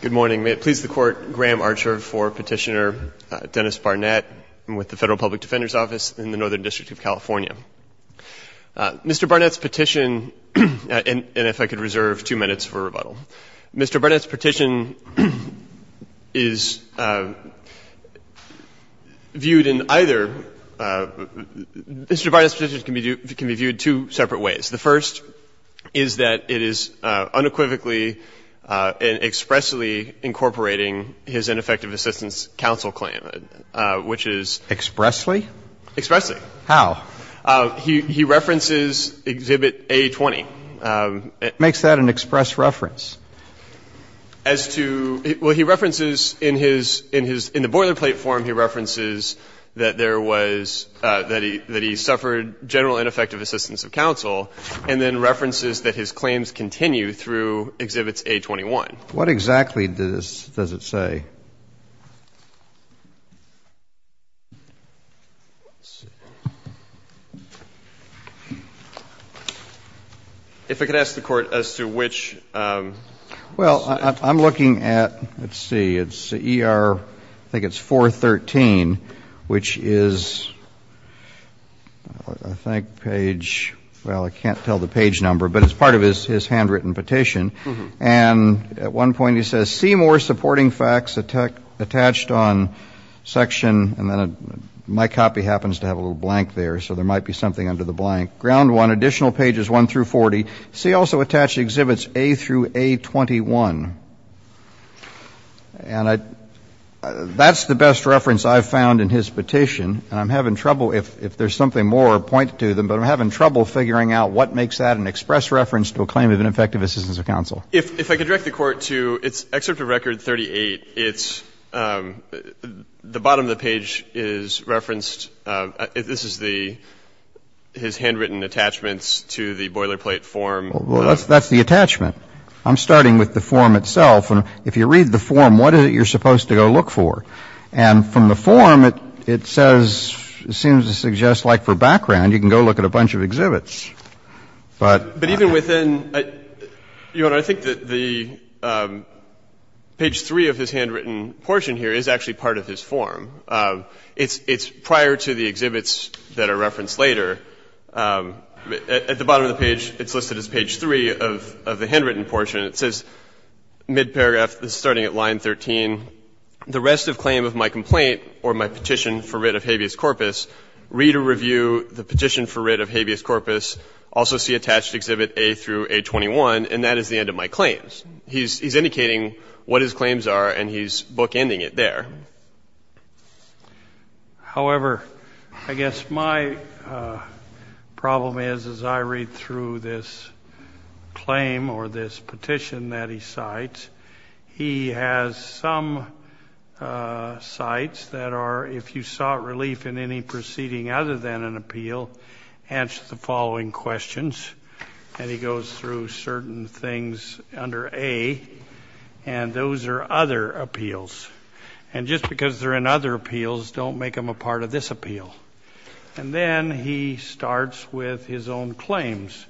Good morning. May it please the Court, Graham Archer for Petitioner Dennis Barnett with the Federal Public Defender's Office in the Northern District of California. Mr. Barnett's petition, and if I could reserve two minutes for rebuttal, Mr. Barnett's petition is viewed in either, Mr. Barnett's petition can be viewed two separate ways. The first is that it is unequivocally and expressly incorporating his ineffective assistance counsel claim, which is. Expressly? Expressly. How? He references Exhibit A-20. Makes that an express reference? As to, well, he references in his, in his, in the boilerplate form he references that there was, that he suffered general ineffective assistance of counsel, and then references that his claims continue through Exhibits A-21. What exactly does it say? If I could ask the Court as to which. Well, I'm looking at, let's see, it's ER, I think it's 413, which is, I think, page, well, I can't tell the page number, but it's part of his handwritten petition. And at one point he says, see more supporting facts attached on section, and then my copy happens to have a little blank there, so there might be something under the blank. Ground 1, additional pages 1 through 40. See also attached Exhibits A through A-21. And I, that's the best reference I've found in his petition. And I'm having trouble, if there's something more, point to them, but I'm having trouble figuring out what makes that an express reference to a claim of ineffective assistance of counsel. If I could direct the Court to, it's Excerpt of Record 38. It's the bottom of the page is referenced. This is the, his handwritten attachments to the boilerplate form. Well, that's the attachment. I'm starting with the form itself. And if you read the form, what is it you're supposed to go look for? And from the form, it says, it seems to suggest like for background, you can go look at a bunch of exhibits. But even within, Your Honor, I think that the page 3 of his handwritten portion here is actually part of his form. It's prior to the exhibits that are referenced later. At the bottom of the page, it's listed as page 3 of the handwritten portion. It says, mid-paragraph, starting at line 13, the rest of claim of my complaint or my petition for writ of habeas corpus, read or review the petition for writ of habeas corpus, also see attached exhibit A through A21, and that is the end of my claims. He's indicating what his claims are, and he's bookending it there. However, I guess my problem is, as I read through this claim or this petition that he cites, he has some cites that are, if you sought relief in any proceeding other than an appeal, answer the following questions. And he goes through certain things under A, and those are other appeals. And just because they're in other appeals, don't make them a part of this appeal. And then he starts with his own claims,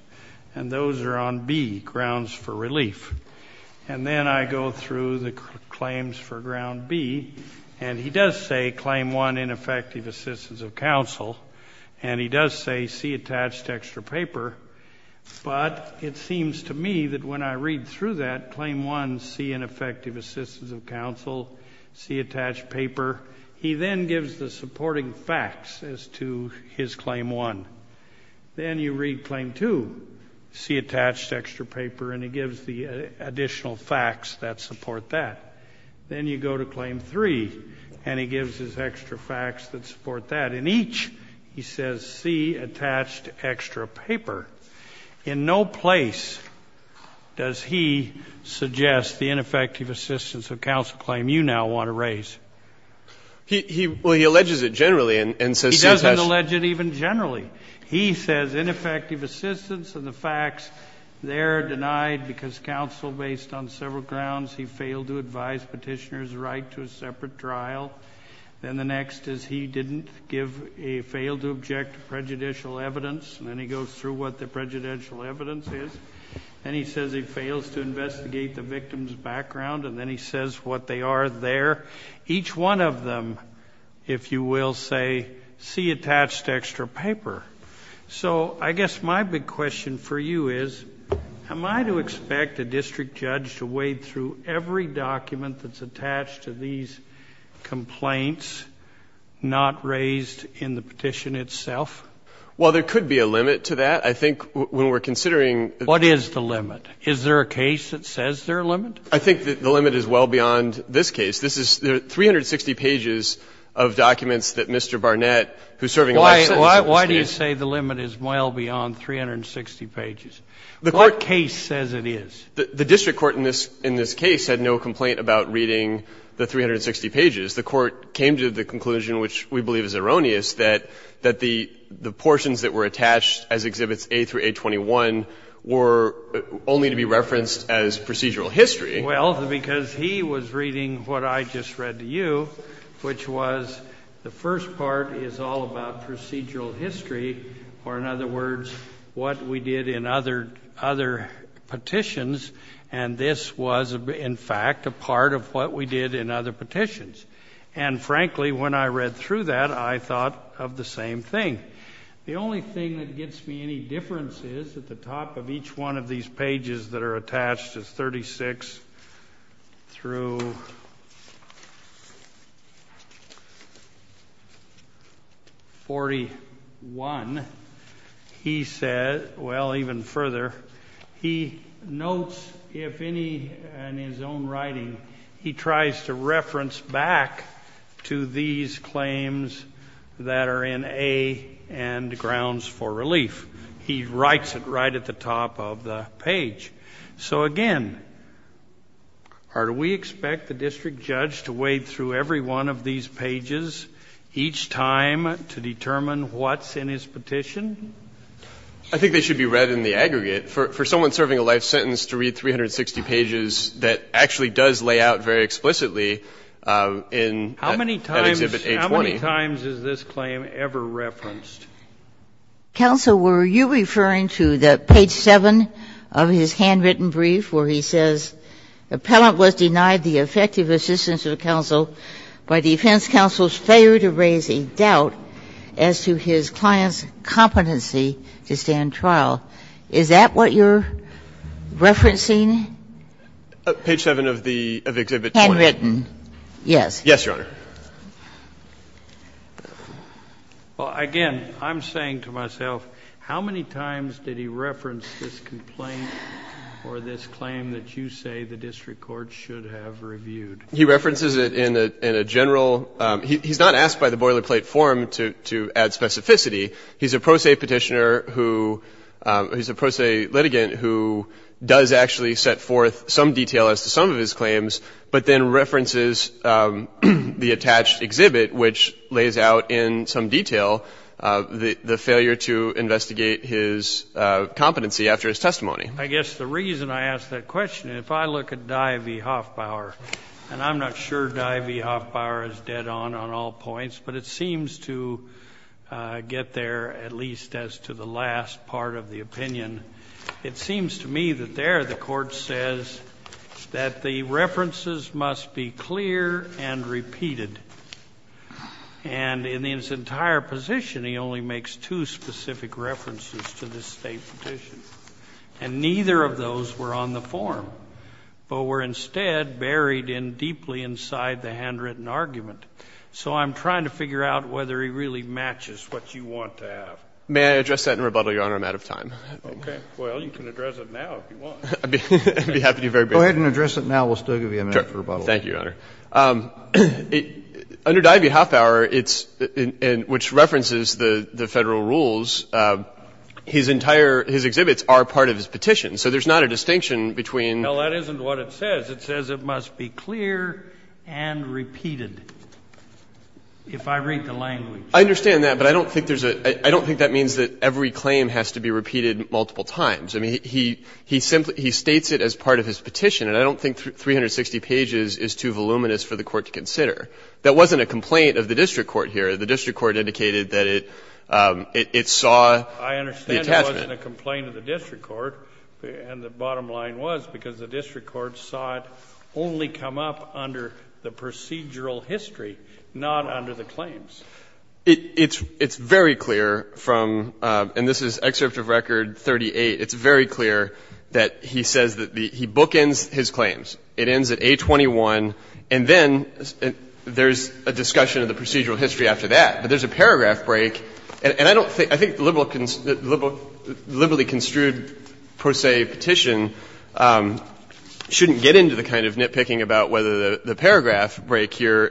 and those are on B, grounds for relief. And then I go through the claims for ground B, and he does say, claim one, see ineffective assistance of counsel, and he does say, see attached extra paper. But it seems to me that when I read through that, claim one, see ineffective assistance of counsel, see attached paper, he then gives the supporting facts as to his claim one. Then you read claim two, see attached extra paper, and he gives the additional facts that support that. Then you go to claim three, and he gives his extra facts that support that. In each, he says, see attached extra paper. In no place does he suggest the ineffective assistance of counsel claim you now want to raise. He alleges it generally and says see attached. He doesn't allege it even generally. He says ineffective assistance and the facts there are denied because counsel, based on several grounds, he failed to advise petitioner's right to a separate trial. Then the next is he didn't give a failed to object prejudicial evidence. And then he goes through what the prejudicial evidence is. Then he says he fails to investigate the victim's background. And then he says what they are there. Each one of them, if you will say, see attached extra paper. So I guess my big question for you is, am I to expect a district judge to wade through every document that's attached to these complaints not raised in the petition itself? Well, there could be a limit to that. I think when we're considering the ---- What is the limit? Is there a case that says there's a limit? I think the limit is well beyond this case. This is 360 pages of documents that Mr. Barnett, who is serving a life sentence in this case ---- Why do you say the limit is well beyond 360 pages? What case says it is? The district court in this case had no complaint about reading the 360 pages. The court came to the conclusion, which we believe is erroneous, that the portions that were attached as Exhibits A through A21 were only to be referenced as procedural history. Well, because he was reading what I just read to you, which was the first part is all about procedural history, or in other words, what we did in other petitions, and this was in fact a part of what we did in other petitions. And frankly, when I read through that, I thought of the same thing. The only thing that gives me any difference is that the top of each one of these pages that are attached as 36 through 41, he said, well, even further, he notes if any in his own writing, he tries to reference back to these claims that are in A and Grounds for Relief. He writes it right at the top of the page. So again, do we expect the district judge to wade through every one of these pages each time to determine what's in his petition? I think they should be read in the aggregate. For someone serving a life sentence to read 360 pages that actually does lay out very explicitly in Exhibit A20. How many times is this claim ever referenced? Ginsburg. Counsel, were you referring to the page 7 of his handwritten brief where he says, Appellant was denied the effective assistance of counsel by defense counsel's failure to raise a doubt as to his client's competency to stand trial? Is that what you're referencing? Page 7 of the Exhibit 20. Handwritten, yes. Yes, Your Honor. Well, again, I'm saying to myself, how many times did he reference this complaint or this claim that you say the district court should have reviewed? He references it in a general – he's not asked by the boilerplate form to add specificity. He's a pro se Petitioner who – he's a pro se litigant who does actually set forth some detail as to some of his claims, but then references the attached exhibit, which lays out in some detail the failure to investigate his competency after his testimony. I guess the reason I ask that question, if I look at Dye v. Hoffbauer, and I'm not sure Dye v. Hoffbauer is dead on on all points, but it seems to get there at least as to the last part of the opinion. It seems to me that there the court says that the references must be clear and repeated. And in his entire position, he only makes two specific references to this State petition. And neither of those were on the form, but were instead buried in deeply inside the handwritten argument. So I'm trying to figure out whether he really matches what you want to have. May I address that in rebuttal, Your Honor? I'm out of time. Okay. Well, you can address it now if you want. I'd be happy to be very brief. Go ahead and address it now. We'll still give you a minute for rebuttal. Thank you, Your Honor. Under Dye v. Hoffbauer, it's – which references the Federal rules, his entire – his exhibits are part of his petition. So there's not a distinction between – No, that isn't what it says. It says it must be clear and repeated, if I read the language. I understand that. But I don't think there's a – I don't think that means that every claim has to be repeated multiple times. I mean, he simply – he states it as part of his petition. And I don't think 360 pages is too voluminous for the Court to consider. That wasn't a complaint of the district court here. The district court indicated that it saw the attachment. I understand it wasn't a complaint of the district court. And the bottom line was because the district court saw it only come up under the procedural history, not under the claims. It's very clear from – and this is Excerpt of Record 38. It's very clear that he says that the – he bookends his claims. It ends at A21. And then there's a discussion of the procedural history after that. But there's a paragraph break. And I don't think – I think the liberally construed, per se, petition shouldn't get into the kind of nitpicking about whether the paragraph break here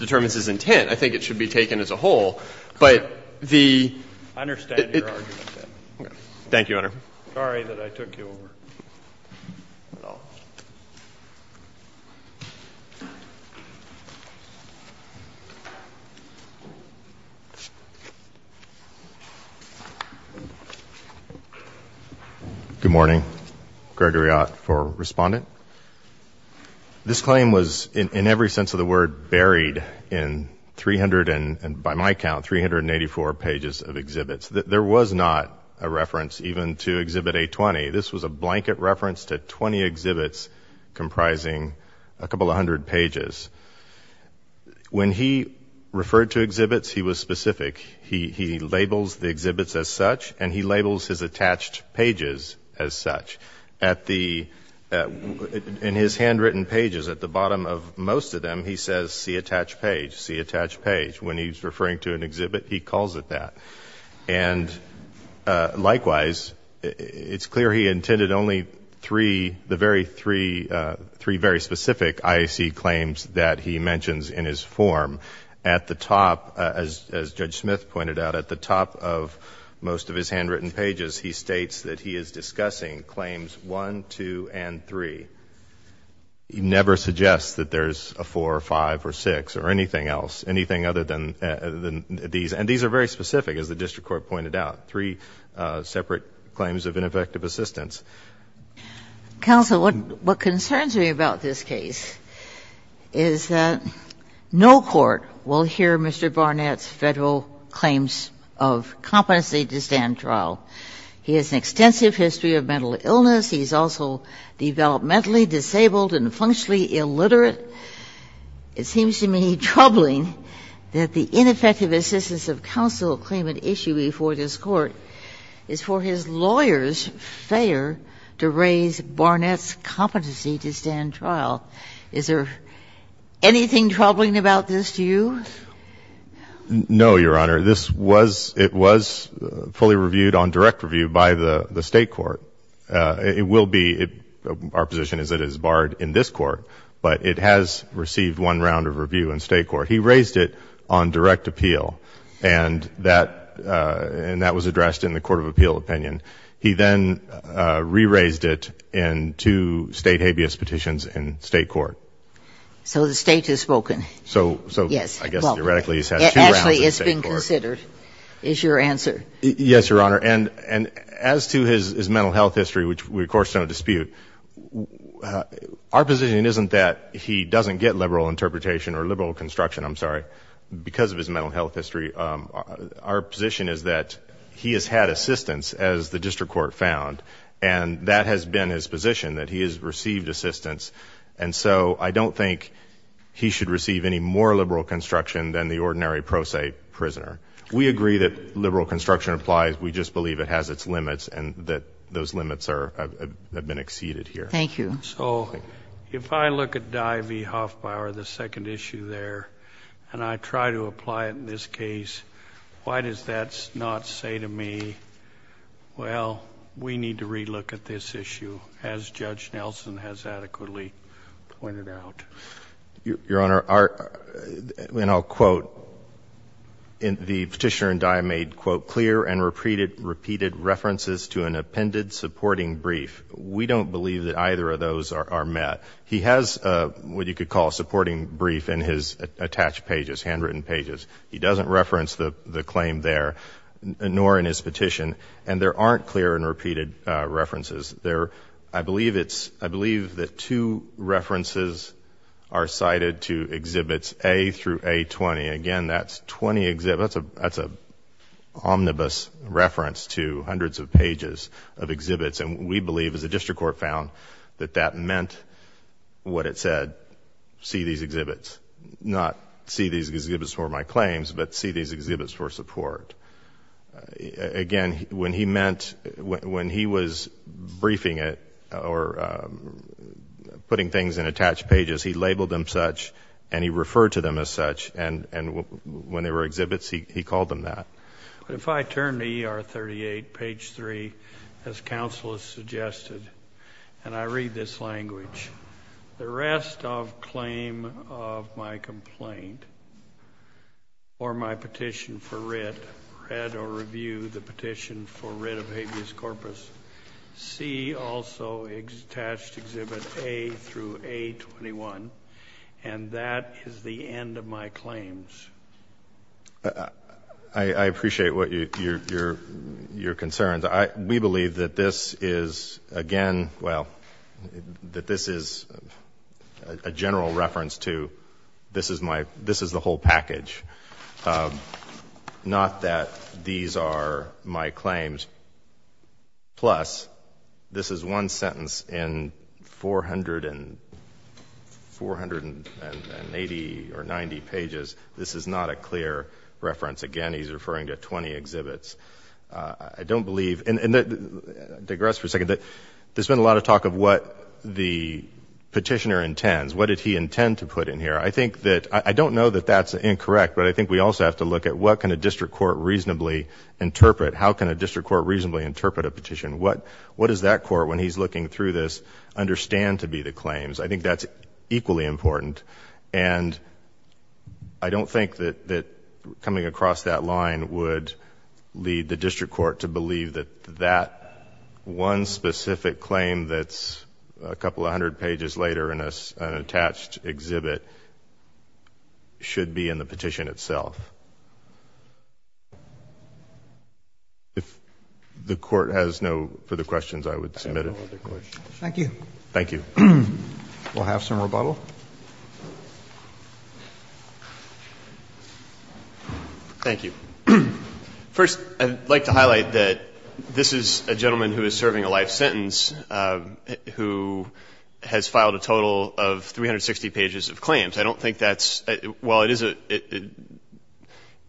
determines his intent. I think it should be taken as a whole. But the – I understand your argument. Thank you, Your Honor. Sorry that I took you over. Good morning. Gregory Ott for Respondent. This claim was, in every sense of the word, buried in 300 and, by my count, 384 pages of exhibits. There was not a reference even to Exhibit A20. This was a blanket reference to 20 exhibits comprising a couple of hundred pages. When he referred to exhibits, he was specific. He labels the exhibits as such, and he labels his attached pages as such. At the – in his handwritten pages, at the bottom of most of them, he says, see attached page, see attached page. When he's referring to an exhibit, he calls it that. And likewise, it's clear he intended only three – the very three very specific IAC claims that he mentions in his form. At the top, as Judge Smith pointed out, at the top of most of his handwritten pages, he states that he is discussing claims 1, 2, and 3. He never suggests that there's a 4, or 5, or 6, or anything else, anything other than these. And these are very specific, as the district court pointed out, three separate claims of ineffective assistance. Counsel, what concerns me about this case is that no court will hear Mr. Barnett's Federal claims of competency to stand trial. He has an extensive history of mental illness. He's also developmentally disabled and functionally illiterate. It seems to me troubling that the ineffective assistance of counsel claiming an issue before this Court is for his lawyer's failure to raise Barnett's competency to stand trial. Is there anything troubling about this to you? No, Your Honor. This was – it was fully reviewed on direct review by the State court. It will be – our position is that it is barred in this court, but it has received one round of review in State court. He raised it on direct appeal, and that – and that was addressed in the court of appeal opinion. He then re-raised it in two State habeas petitions in State court. So the State has spoken? So – so I guess – Well – Theoretically, he's had two rounds in State court. Actually, it's been considered, is your answer. Yes, Your Honor. And as to his mental health history, which we, of course, don't dispute, our position isn't that he doesn't get liberal interpretation or liberal construction – I'm sorry – because of his mental health history. Our position is that he has had assistance, as the district court found, and that has been his position, that he has received assistance. And so I don't think he should receive any more liberal construction than the ordinary pro se prisoner. We agree that liberal construction applies. We just believe it has its limits and that those limits are – have been exceeded here. Thank you. So if I look at Dye v. Hoffbauer, the second issue there, and I try to apply it in this case, why does that not say to me, well, we need to relook at this issue as Judge Nelson has adequately pointed out? Your Honor, our – and I'll quote – the Petitioner and Dye made, quote, clear and repeated references to an appended supporting brief. We don't believe that either of those are met. He has what you could call a supporting brief in his attached pages, handwritten pages. He doesn't reference the claim there, nor in his petition, and there aren't clear and repeated references. There – I believe it's – I believe the two references are cited to Exhibits A through A20. Again, that's 20 – that's an omnibus reference to hundreds of pages of exhibits, and we believe, as the District Court found, that that meant what it said, see these exhibits. Not see these exhibits for my claims, but see these exhibits for support. Again, when he meant – when he was briefing it or putting things in attached pages, he labeled them such, and he referred to them as such, and when they were exhibits, he called them that. But if I turn to ER 38, page 3, as counsel has suggested, and I read this language, the rest of claim of my complaint or my petition for writ, read or review the petition for writ of habeas corpus, see also attached Exhibit A through A21, and that is the end of my claims. I appreciate what you – your concerns. We believe that this is, again – well, that this is a general reference to this is my – this is the whole package, not that these are my claims. Plus, this is one sentence in 480 or 90 pages. This is not a clear reference. Again, he's referring to 20 exhibits. I don't believe – and digress for a second. There's been a lot of talk of what the petitioner intends. What did he intend to put in here? I think that – I don't know that that's incorrect, but I think we also have to look at what can a district court reasonably interpret? How can a district court reasonably interpret a petition? What does that court, when he's looking through this, understand to be the claims? I think that's equally important. And I don't think that coming across that line would lead the district court to believe that that one specific claim that's a couple of hundred pages later in an attached exhibit should be in the petition itself. If the court has no further questions, I would submit it. I have no other questions. Thank you. Thank you. We'll have some rebuttal. Thank you. First, I'd like to highlight that this is a gentleman who is serving a life sentence who has filed a total of 360 pages of claims. I don't think that's – while it is a –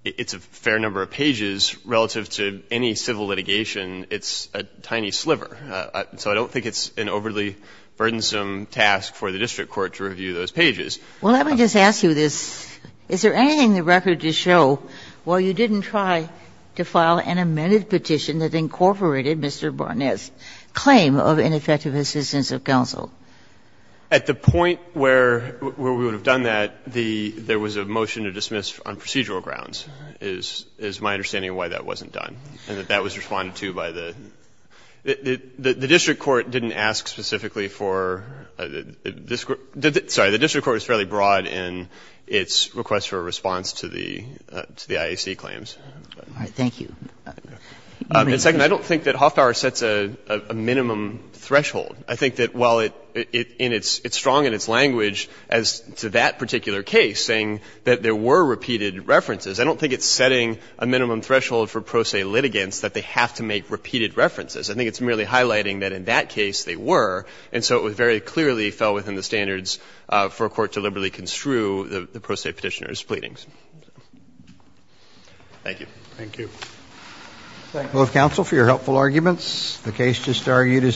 it's a fair number of pages relative to any civil litigation, it's a tiny sliver. So I don't think it's an overly burdensome task for the district court to review those pages. Well, let me just ask you this. Is there anything in the record to show, while you didn't try to file an amended petition that incorporated Mr. Barnett's claim of ineffective assistance of counsel? At the point where we would have done that, the – there was a motion to dismiss on procedural grounds is my understanding of why that wasn't done and that that was responded to by the – the district court didn't ask specifically for this The district court is fairly broad in its request for a response to the – to the IAC claims. All right. Thank you. And second, I don't think that Hofbauer sets a minimum threshold. I think that while it – in its – it's strong in its language as to that particular case, saying that there were repeated references, I don't think it's setting a minimum threshold for pro se litigants that they have to make repeated references. I think it's merely highlighting that in that case they were, and so it very clearly fell within the standards for a court to liberally construe the pro se petitioner's pleadings. Thank you. Thank you. I thank both counsel for your helpful arguments. The case just argued is submitted.